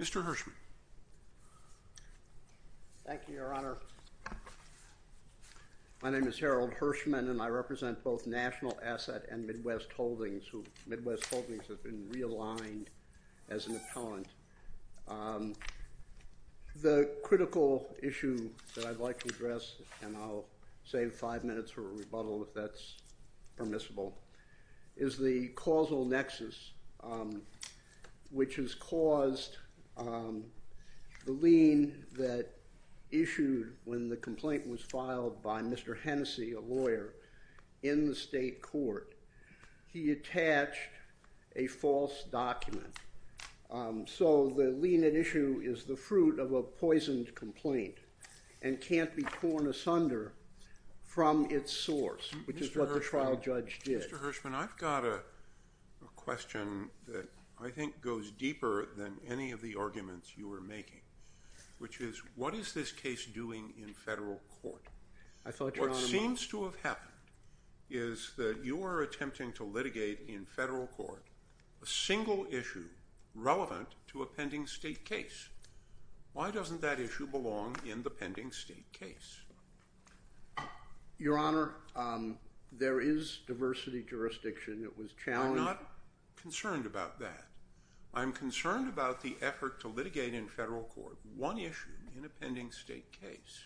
Mr. Hershman. Thank you, Your Honor. My name is Harold Hershman, and I represent both National The critical issue that I'd like to address, and I'll save five minutes for a rebuttal if that's permissible, is the causal nexus, which has caused the lien that issued when the complaint was filed by Mr. Hennessy, a lawyer, in the state court. He attached a false document. So the lien at issue is the fruit of a poisoned complaint and can't be torn asunder from its source, which is what the trial judge did. Mr. Hershman, I've got a question that I think goes deeper than any of the arguments you were making, which is, what is this case doing in federal court? What seems to have happened is that you are attempting to litigate in federal court a single issue relevant to a pending state case. Why doesn't that issue belong in the pending state case? Your Honor, there is diversity jurisdiction. It was challenged. I'm not concerned about that. I'm concerned about the effort to litigate in federal court one issue in a pending state case.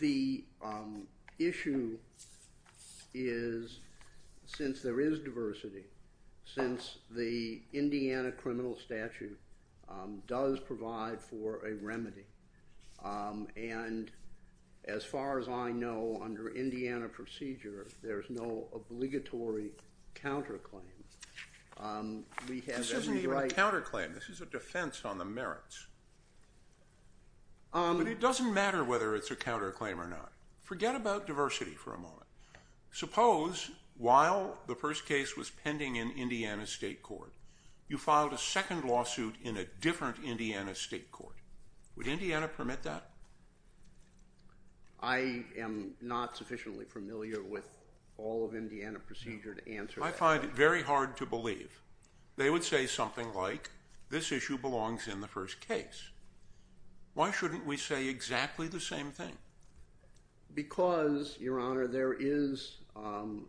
The issue is, since there is diversity, since the Indiana criminal statute does provide for a remedy, and as far as I know, under Indiana procedure, there's no obligatory counterclaim. This isn't even a counterclaim. This is a defense on the merits. But it doesn't matter whether it's a counterclaim or not. Forget about diversity for a moment. Suppose, while the first case was pending in Indiana state court, you filed a second lawsuit in a different Indiana state court. Would Indiana permit that? I am not sufficiently familiar with all of Indiana procedure to answer that. I find it very hard to believe they would say something like, this issue belongs in the first case. Why shouldn't we say exactly the same thing? Because, Your Honor, there is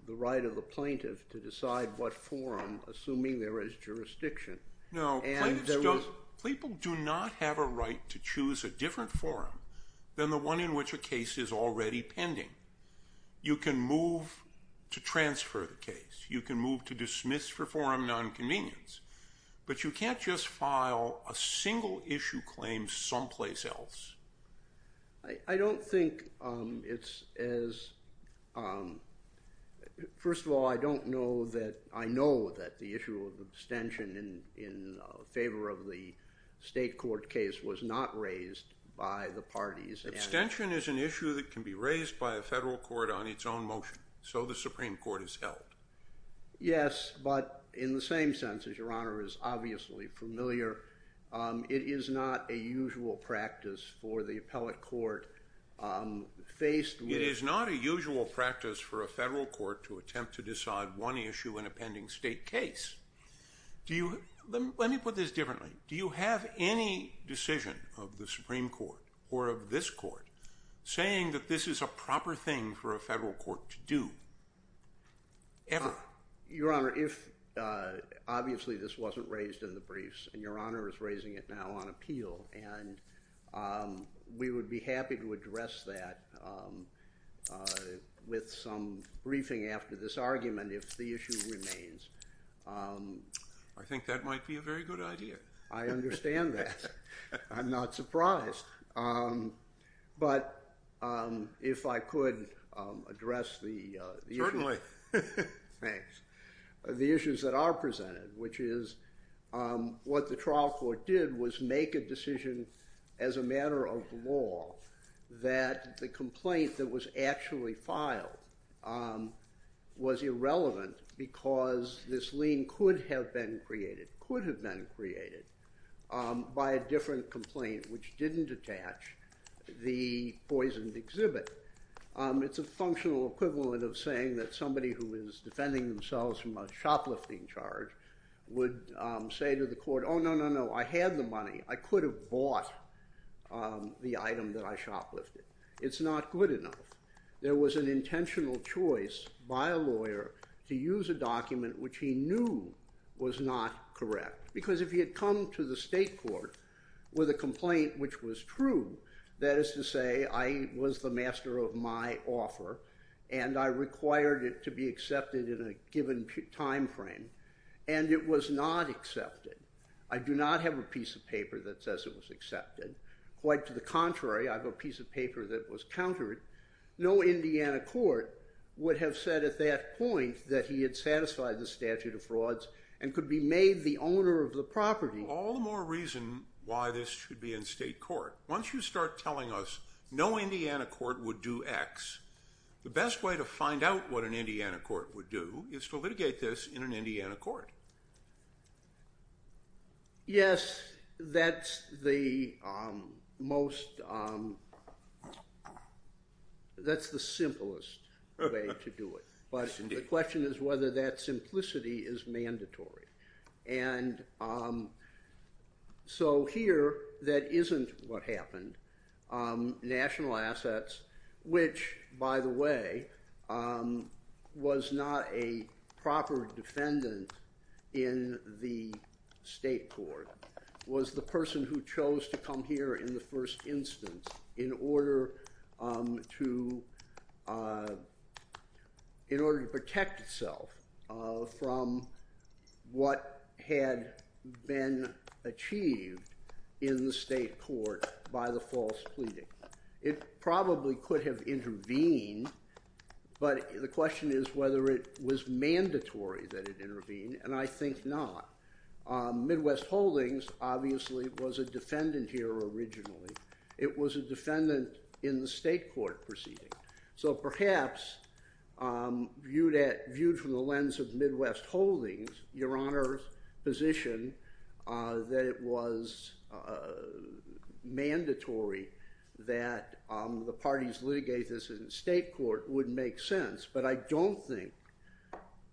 the right of the plaintiff to decide what forum, assuming there is jurisdiction. No, plaintiffs don't. People do not have a right to choose a different forum than the one in which a case is already pending. You can move to transfer the case. You can move to dismiss for forum nonconvenience. But you can't just file a single issue claim someplace else. I don't think it's as, first of all, I don't know that, I know that the issue of abstention in favor of the state court case was not raised by the parties. Abstention is an issue that can be raised by a federal court on its own motion. So the Supreme Court has held. Yes, but in the same sense, as Your Honor is obviously familiar, it is not a usual practice for the appellate court. It is not a usual practice for a federal court to attempt to decide one issue in a pending state case. Let me put this differently. Do you have any decision of the Supreme Court or of this court saying that this is a proper thing for a federal court to do, ever? Your Honor, obviously this wasn't raised in the briefs, and Your Honor is raising it now on appeal. And we would be happy to address that with some briefing after this argument if the issue remains. I think that might be a very good idea. I understand that. I'm not surprised. But if I could address the issue. Certainly. Thanks. The issues that are presented, which is what the trial court did was make a decision as a matter of law that the complaint that was actually filed was irrelevant because this lien could have been created by a different complaint which didn't attach the poisoned exhibit. It's a functional equivalent of saying that somebody who is defending themselves from a shoplifting charge would say to the court, oh, no, no, no, I had the money. I could have bought the item that I shoplifted. It's not good enough. There was an intentional choice by a lawyer to use a document which he knew was not correct. Because if he had come to the state court with a complaint which was true, that is to say, I was the master of my offer, and I required it to be accepted in a given time frame, and it was not accepted. I do not have a piece of paper that says it was accepted. Quite to the contrary, I have a piece of paper that was countered. No Indiana court would have said at that point that he had satisfied the statute of frauds and could be made the owner of the property. All the more reason why this should be in state court. Once you start telling us no Indiana court would do X, the best way to find out what an Indiana court would do is to litigate this in an Indiana court. Yes, that's the most, that's the simplest way to do it, but the question is whether that simplicity is mandatory. And so here, that isn't what happened. National Assets, which by the way, was not a proper defendant in the state court, was the person who chose to come here in the first instance in order to protect itself from what had been achieved in the state court by the false pleading. It probably could have intervened, but the question is whether it was mandatory that it intervene, and I think not. Midwest Holdings obviously was a defendant here originally. It was a defendant in the state court proceeding. So perhaps viewed from the lens of Midwest Holdings, Your Honor's position that it was mandatory that the parties litigate this in state court would make sense. But I don't think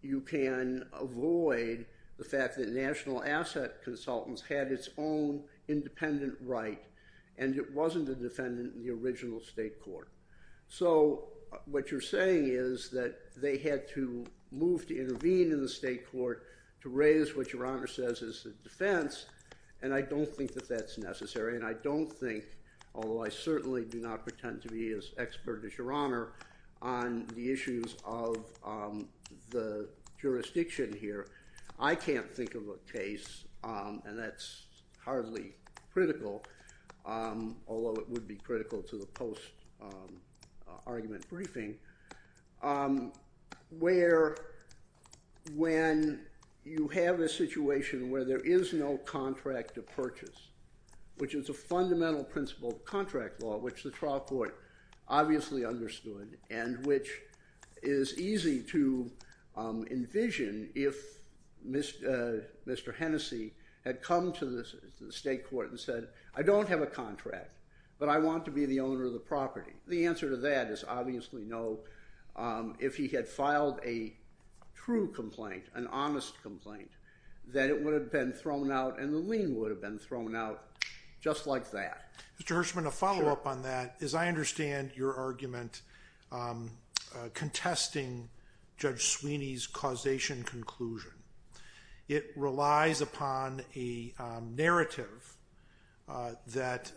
you can avoid the fact that National Asset Consultants had its own independent right, and it wasn't a defendant in the original state court. So what you're saying is that they had to move to intervene in the state court to raise what Your Honor says is a defense, and I don't think that that's necessary. And I don't think, although I certainly do not pretend to be as expert as Your Honor on the issues of the jurisdiction here, I can't think of a case, and that's hardly critical, although it would be critical to the post-argument briefing, where when you have a situation where there is no contract to purchase, which is a fundamental principle of contract law, which the trial court obviously understood, and which is easy to envision if Mr. Hennessy had come to the state court and said, I don't have a contract, but I want to be the owner of the property. The answer to that is obviously no. If he had filed a true complaint, an honest complaint, then it would have been thrown out and the lien would have been thrown out just like that. Mr. Hirshman, a follow-up on that is I understand your argument contesting Judge Sweeney's causation conclusion. It relies upon a narrative that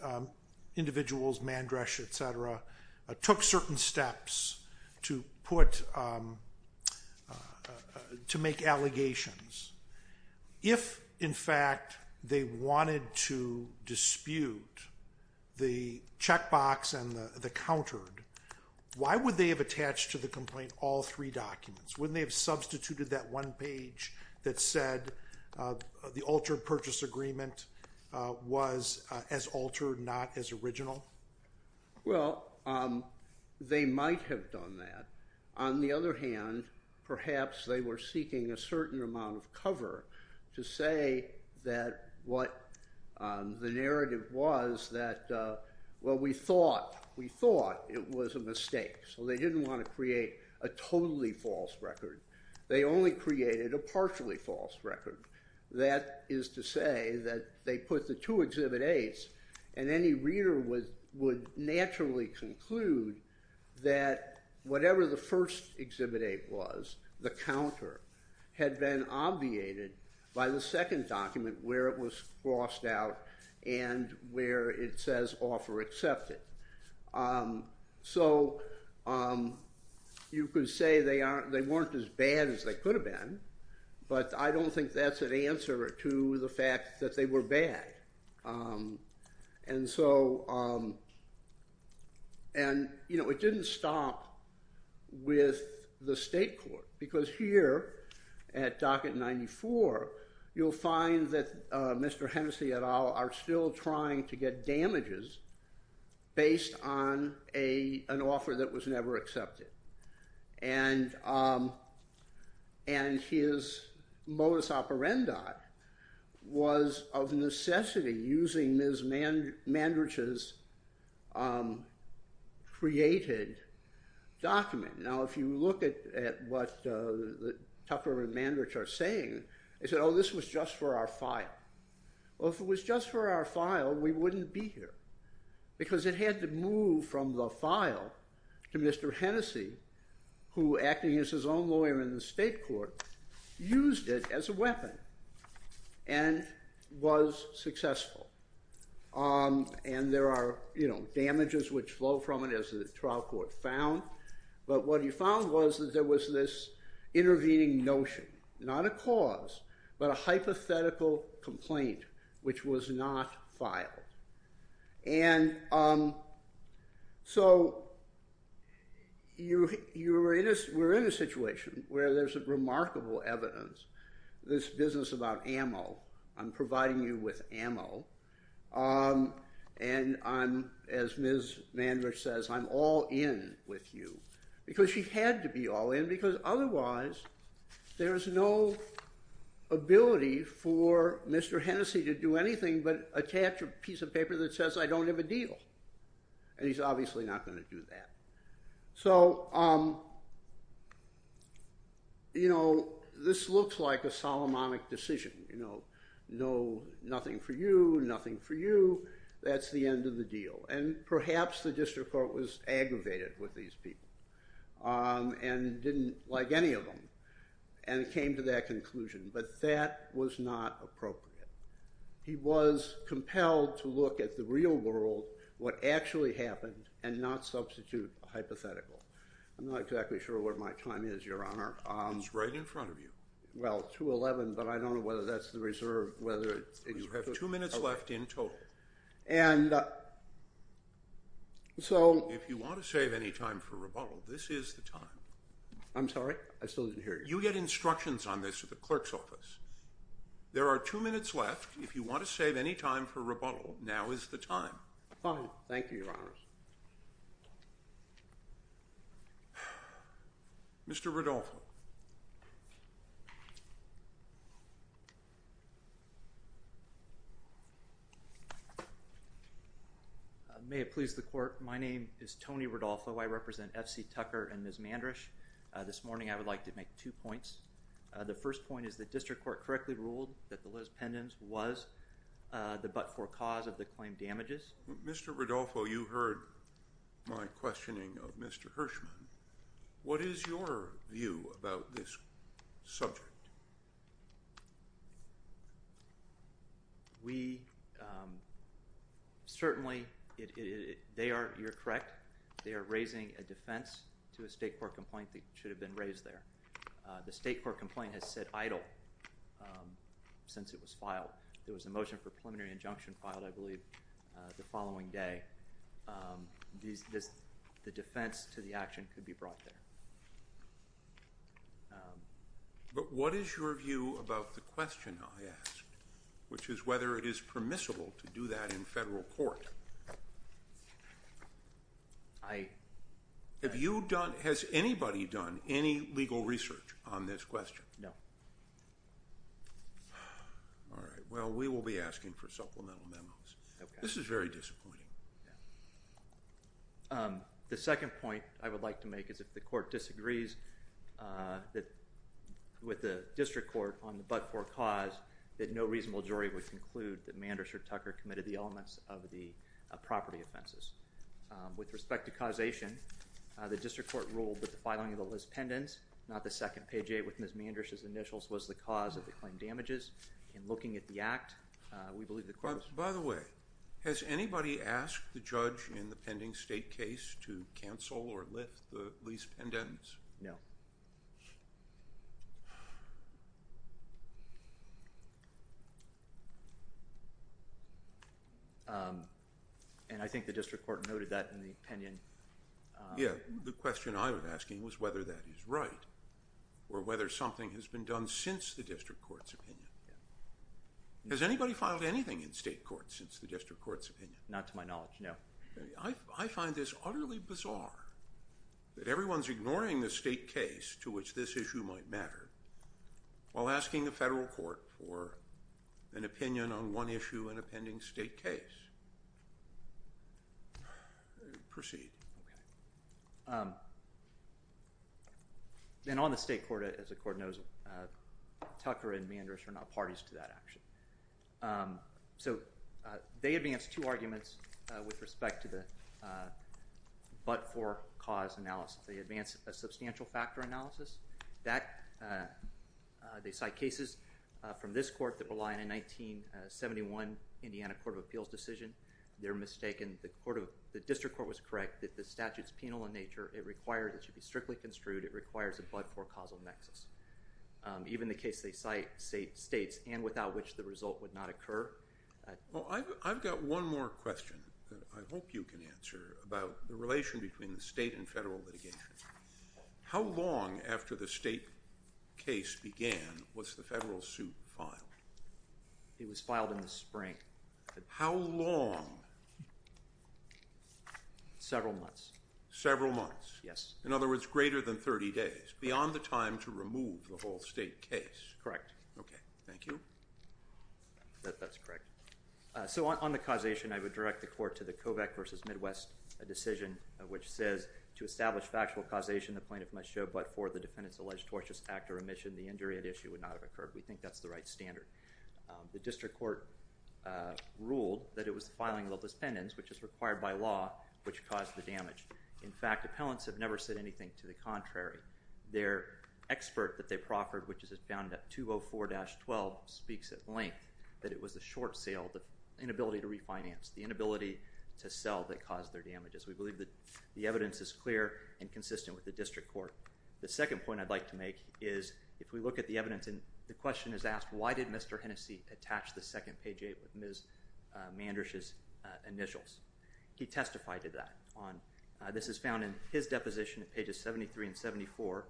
individuals, Mandresh, et cetera, took certain steps to make allegations. If, in fact, they wanted to dispute the checkbox and the countered, why would they have attached to the complaint all three documents? Wouldn't they have substituted that one page that said the altered purchase agreement was as altered, not as original? Well, they might have done that. On the other hand, perhaps they were seeking a certain amount of cover to say that what the narrative was that, well, we thought it was a mistake. So they didn't want to create a totally false record. They only created a partially false record. That is to say that they put the two Exhibit 8s, and any reader would naturally conclude that whatever the first Exhibit 8 was, the counter, had been obviated by the second document where it was crossed out and where it says offer accepted. So you could say they weren't as bad as they could have been. But I don't think that's an answer to the fact that they were bad. And it didn't stop with the state court. Because here at Docket 94, you'll find that Mr. Hennessy et al. are still trying to get damages based on an offer that was never accepted. And his modus operandi was of necessity using Ms. Mandridge's created document. Now, if you look at what Tucker and Mandridge are saying, they said, oh, this was just for our file. Well, if it was just for our file, we wouldn't be here. Because it had to move from the file to Mr. Hennessy, who, acting as his own lawyer in the state court, used it as a weapon and was successful. And there are damages which flow from it, as the trial court found. But what he found was that there was this intervening notion, not a cause, but a hypothetical complaint which was not filed. And so we're in a situation where there's remarkable evidence. This business about ammo. I'm providing you with ammo. And as Ms. Mandridge says, I'm all in with you. Because she had to be all in. Because otherwise, there is no ability for Mr. Hennessy to do anything but attach a piece of paper that says, I don't have a deal. And he's obviously not going to do that. So this looks like a Solomonic decision. Nothing for you, nothing for you. That's the end of the deal. And perhaps the district court was aggravated with these people, and didn't like any of them. And it came to that conclusion. But that was not appropriate. He was compelled to look at the real world, what actually happened, and not substitute a hypothetical. I'm not exactly sure what my time is, Your Honor. It's right in front of you. But I don't know whether that's the reserve. You have two minutes left in total. If you want to save any time for rebuttal, this is the time. I'm sorry? I still didn't hear you. You get instructions on this at the clerk's office. There are two minutes left. If you want to save any time for rebuttal, now is the time. Fine. Thank you, Your Honors. Mr. Rodolfo. May it please the court, my name is Tony Rodolfo. I represent F.C. Tucker and Ms. Mandrisch. This morning, I would like to make two points. The first point is the district court correctly ruled that the Liz Pendens was the but-for-cause of the claimed damages. Mr. Rodolfo, you heard my questioning of Mr. Hirschman. What is your view about this subject? We certainly, they are, you're correct, they are raising a defense to a state court complaint that should have been raised there. The state court complaint has said idle since it was filed. There was a motion for preliminary injunction filed, I believe, the following day. The defense to the action could be brought there. But what is your view about the question I asked, which is whether it is permissible to do that in federal court? I. Have you done, has anybody done any legal research on this question? No. All right. Well, we will be asking for supplemental memos. Okay. This is very disappointing. The second point I would like to make is if the court disagrees with the district court on the but-for-cause, that no reasonable jury would conclude that Mandrisch or Tucker committed the elements of the property offenses. With respect to causation, the district court ruled that the filing of the lease pendants, not the second page eight with Ms. Mandrisch's initials, was the cause of the claim damages. In looking at the act, we believe the court. By the way, has anybody asked the judge in the pending state case to cancel or lift the lease pendants? No. And I think the district court noted that in the opinion. Yeah. The question I was asking was whether that is right or whether something has been done since the district court's opinion. Has anybody filed anything in state court since the district court's opinion? Not to my knowledge. No. I find this utterly bizarre that everyone's ignoring the state case to which this issue might matter while asking the federal court for an opinion on one issue in a pending state case. Proceed. Okay. And on the state court, as the court knows, Tucker and Mandrisch are not parties to that action. So they advance two arguments with respect to the but-for cause analysis. They advance a substantial factor analysis. They cite cases from this court that rely on a 1971 Indiana Court of Appeals decision. They're mistaken. The district court was correct that the statute's penal in nature. It should be strictly construed. It requires a but-for causal nexus. Even the case they cite states and without which the result would not occur. Well, I've got one more question that I hope you can answer about the relation between the state and federal litigation. How long after the state case began was the federal suit filed? It was filed in the spring. How long? Several months. Several months. Yes. In other words, greater than 30 days, beyond the time to remove the whole state case. Correct. Okay. Thank you. That's correct. So on the causation, I would direct the court to the COVEC versus Midwest decision, which says to establish factual causation, the plaintiff must show but-for the defendant's alleged tortious act or omission. The injury at issue would not have occurred. We think that's the right standard. The district court ruled that it was the filing of the dispendants, which is required by law, which caused the damage. In fact, appellants have never said anything to the contrary. Their expert that they proffered, which is as found at 204-12, speaks at length that it was the short sale, the inability to refinance, the inability to sell that caused their damages. We believe that the evidence is clear and consistent with the district court. The second point I'd like to make is if we look at the evidence and the question is asked, why did Mr. Hennessy attach the second page 8 with Ms. Mandrisch's initials? He testified to that. This is found in his deposition at pages 73 and 74,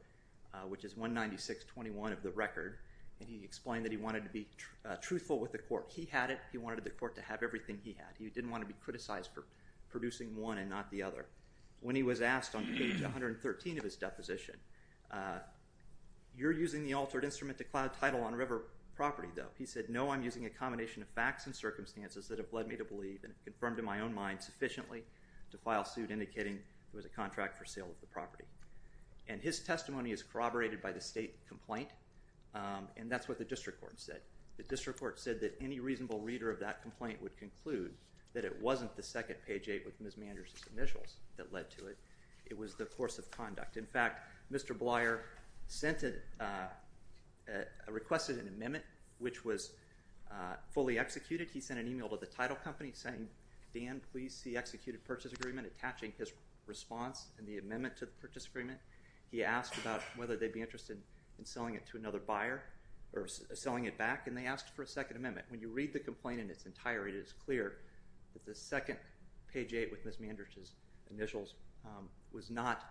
which is 196-21 of the record, and he explained that he wanted to be truthful with the court. He had it. He wanted the court to have everything he had. He didn't want to be criticized for producing one and not the other. When he was asked on page 113 of his deposition, you're using the altered instrument to cloud title on River property, though. He said, no, I'm using a combination of facts and circumstances that have led me to believe and confirmed in my own mind sufficiently to file suit indicating it was a contract for sale of the property. And his testimony is corroborated by the state complaint, and that's what the district court said. The district court said that any reasonable reader of that complaint would conclude that it wasn't the second page 8 with Ms. Mandrisch's initials that led to it. It was the course of conduct. In fact, Mr. Blyer requested an amendment, which was fully executed. He sent an email to the title company saying, Dan, please see executed purchase agreement, attaching his response and the amendment to the purchase agreement. He asked about whether they'd be interested in selling it to another buyer or selling it back, and they asked for a second amendment. When you read the complaint in its entirety, it is clear that the second page 8 with Ms. Mandrisch's initials was not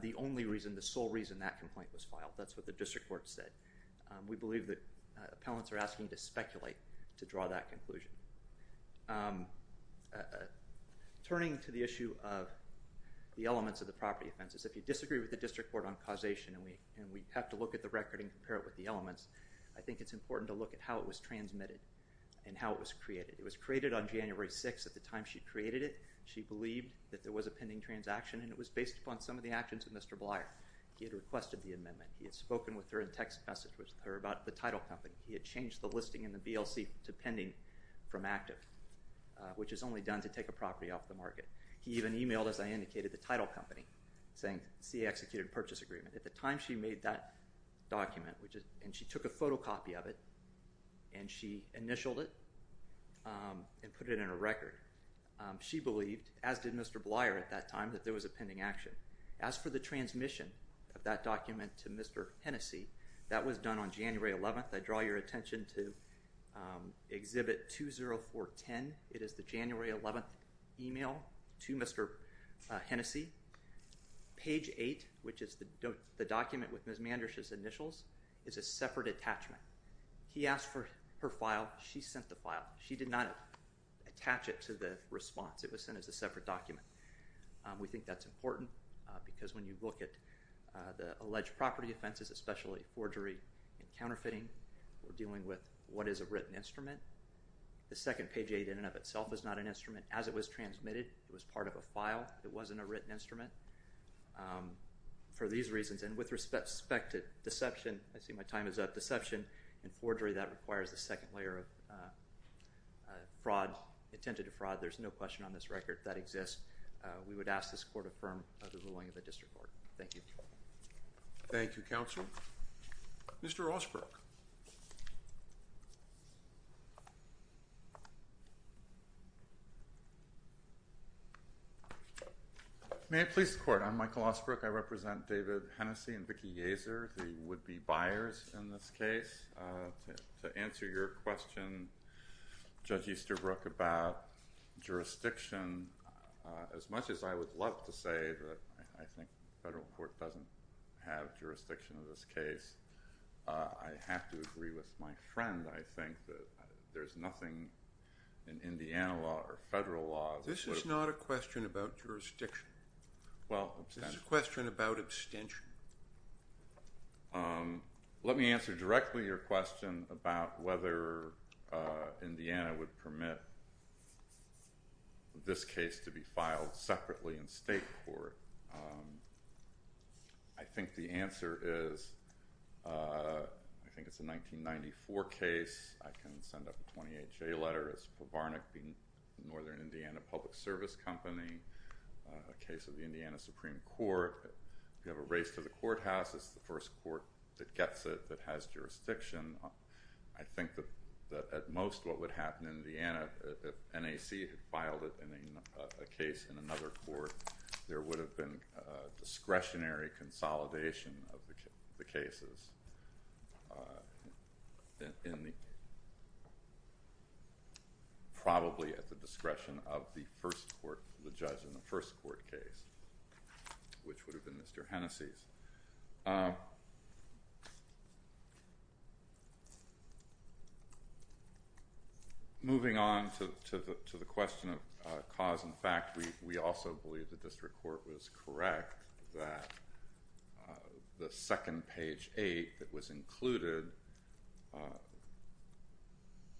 the only reason, the sole reason that complaint was filed. That's what the district court said. We believe that appellants are asking to speculate to draw that conclusion. Turning to the issue of the elements of the property offenses, if you disagree with the district court on causation and we have to look at the record and compare it with the elements, I think it's important to look at how it was transmitted and how it was created. It was created on January 6. At the time she created it, she believed that there was a pending transaction, and it was based upon some of the actions of Mr. Blyer. He had requested the amendment. He had spoken with her in text message with her about the title company. He had changed the listing in the BLC to pending from active, which is only done to take a property off the market. He even emailed, as I indicated, the title company saying, see executed purchase agreement. At the time she made that document, and she took a photocopy of it, and she initialed it and put it in a record. She believed, as did Mr. Blyer at that time, that there was a pending action. As for the transmission of that document to Mr. Hennessey, that was done on January 11th. I draw your attention to Exhibit 20410. It is the January 11th email to Mr. Hennessey. Page 8, which is the document with Ms. Mandrisch's initials, is a separate attachment. He asked for her file. She sent the file. She did not attach it to the response. It was sent as a separate document. We think that's important, because when you look at the alleged property offenses, especially forgery and counterfeiting, we're dealing with what is a written instrument. The second page 8 in and of itself is not an instrument. As it was transmitted, it was part of a file. It wasn't a written instrument for these reasons. And with respect to deception, I see my time is up, deception and forgery, that requires a second layer of fraud, intent to defraud. There's no question on this record that exists. We would ask this Court affirm the ruling of the District Court. Thank you. Thank you, Counsel. Mr. Osbrook. May it please the Court. I'm Michael Osbrook. I represent David Hennessey and Vicki Yaser, the would-be buyers in this case. To answer your question, Judge Easterbrook, about jurisdiction, as much as I would love to say that I think federal court doesn't have jurisdiction in this case, I have to agree with my friend, I think, that there's nothing in Indiana law or federal law that would This is not a question about jurisdiction. Well, This is a question about abstention. Let me answer directly your question about whether Indiana would permit this case to be filed separately in state court. I think the answer is, I think it's a 1994 case. I can send up a 28-J letter. It's for Varnick, the Northern Indiana Public Service Company, a case of the Indiana Supreme Court. If you have a race to the courthouse, it's the first court that gets it that has jurisdiction. I think that at most what would happen in Indiana, if NAC had filed a case in another court, there would have been discretionary consolidation of the cases, probably at the discretion of the first court, the judge in the first court case, which would have been Mr. Hennessy's. Moving on to the question of cause and fact, we also believe the district court was correct that the second page eight that was included,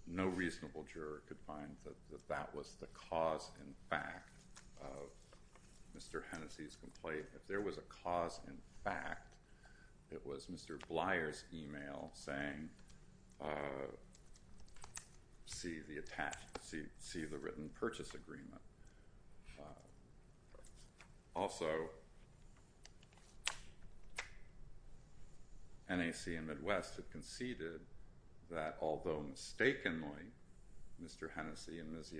no reasonable juror could find that that was the cause and fact of Mr. Hennessy's complaint. If there was a cause and fact, it was Mr. Blyer's email saying, see the written purchase agreement. Also, NAC and Midwest had conceded that although mistakenly Mr. Blyer's email said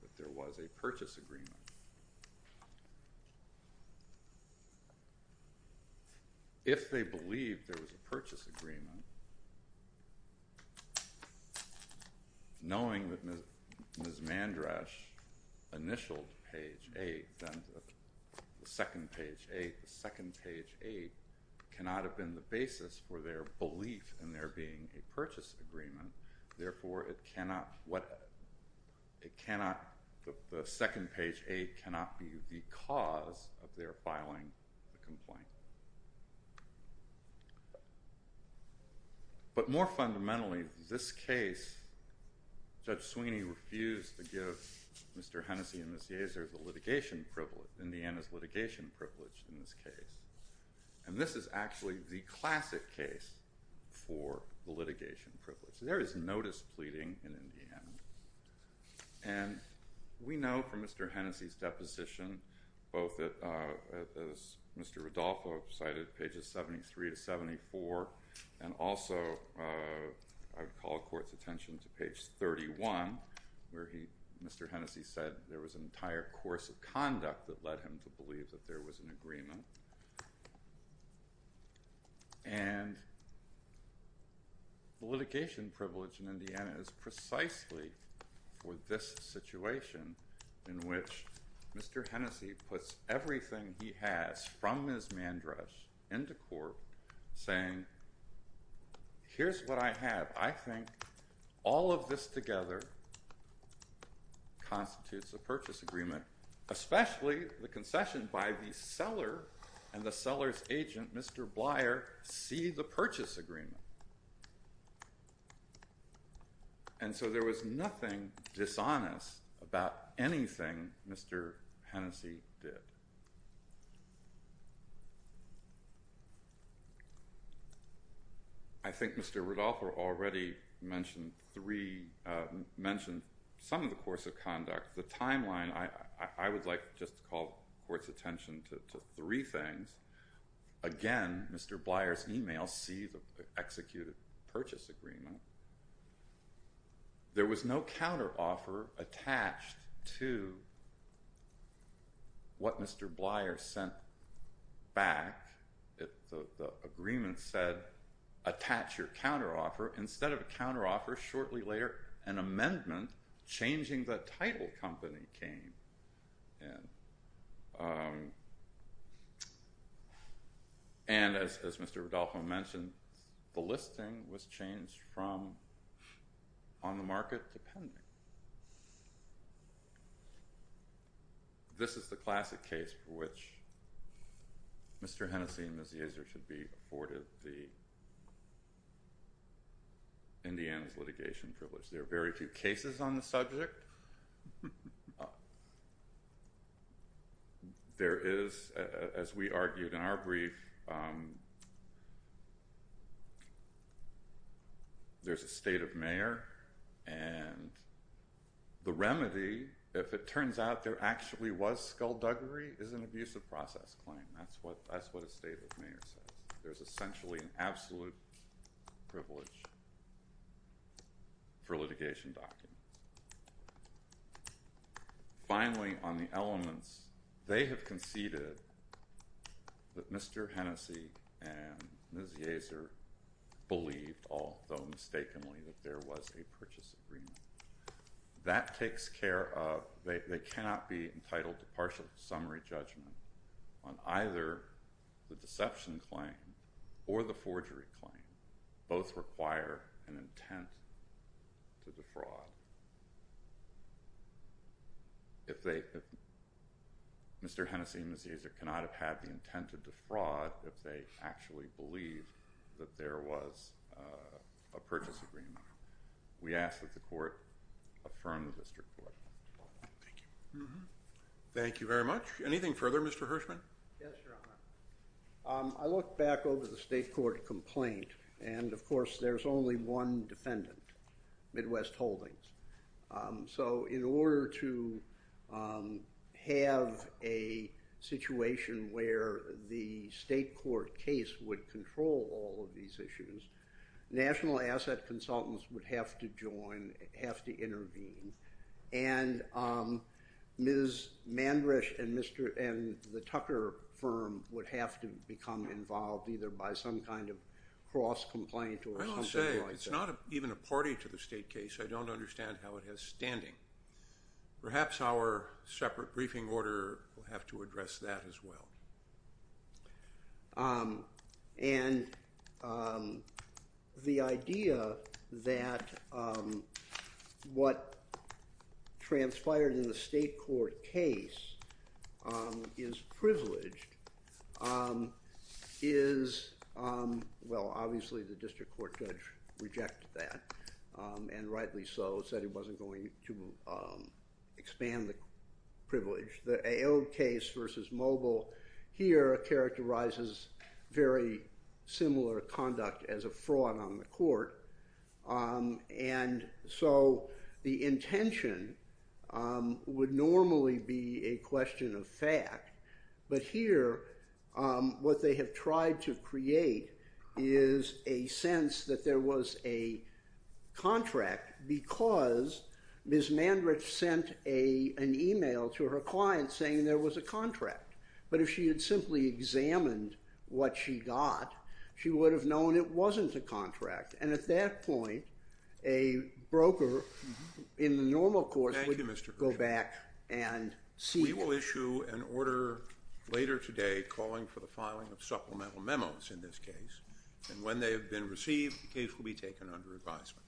that there was a purchase agreement. If they believe there was a purchase agreement, knowing that Ms. Mandrash initialed page eight, then the second page eight, the second page eight cannot have been the basis for their belief in there being a purchase agreement. Therefore, it cannot, the second page eight cannot be the cause of their filing a complaint. But more fundamentally, this case, Judge Sweeney refused to give Mr. Hennessy and Ms. Yazer the litigation privilege, Indiana's litigation privilege in this case. And this is actually the classic case for the litigation privilege. There is notice pleading in Indiana. And we know from Mr. Hennessy's deposition, both as Mr. Rodolfo cited pages 73 to 74. And also I would call court's attention to page 31 where he, Mr. Hennessy said there was an entire course of conduct that led him to believe that there was an agreement. And the litigation privilege in Indiana is precisely for this situation in which Mr. Hennessy puts everything he has from Ms. Mandrash into court saying, here's what I have. I think all of this together constitutes a purchase agreement, especially the concession by the seller and the seller's agent, Mr. Blier see the purchase agreement. And so there was nothing dishonest about anything Mr. Hennessy did. I think Mr. Rodolfo already mentioned three mentioned some of the course of I would like just to call court's attention to three things. Again, Mr. Blier's email, see the executed purchase agreement. There was no counteroffer attached to what Mr. Blier sent back. The agreement said, attach your counteroffer. Instead of a counteroffer, shortly later, an amendment changing the title company came in. And as Mr. Rodolfo mentioned, the listing was changed from on the market to pending. This is the classic case for which Mr. Hennessy and Ms. Yaser should be There are very few cases on the subject. There is, as we argued in our brief, there's a state of mayor. And the remedy, if it turns out there actually was skullduggery, is an abusive process claim. That's what a state of mayor says. There's essentially an absolute privilege for litigation documents. Finally, on the elements, they have conceded that Mr. Hennessy and Ms. Yaser believed, although mistakenly, that there was a purchase agreement. That takes care of, they cannot be entitled to partial summary judgment on either the deception claim or the forgery claim. Both require an intent to defraud. Mr. Hennessy and Ms. Yaser cannot have had the intent to defraud if they actually believe that there was a purchase agreement. We ask that the court affirm the district court. Thank you very much. Anything further, Mr. Hirschman? Yes, Your Honor. I looked back over the state court complaint, and of course there's only one defendant, Midwest Holdings. So in order to have a situation where the state court case would control all of these issues, national asset consultants would have to join, have to intervene. And Ms. Mandrisch and the Tucker firm would have to become involved either by some kind of cross-complaint or something like that. I will say, it's not even a party to the state case. I don't understand how it has standing. Perhaps our separate briefing order will have to address that as well. And the idea that what transpired in the state court case is privileged is, well, obviously the district court judge rejected that, and rightly so, said he wasn't going to expand the privilege. The Aode case versus Mobile here characterizes very similar conduct as a fraud on the court. And so the intention would normally be a question of fact, but here what they have tried to create is a sense that there was a contract because Ms. Mandrisch sent an email to her client saying there was a contract. But if she had simply examined what she got, she would have known it wasn't a contract. And at that point, a broker in the normal course would go back and seek it. We will issue an order later today calling for the filing of supplemental memos in this case. And when they have been received, the case will be taken under advisement.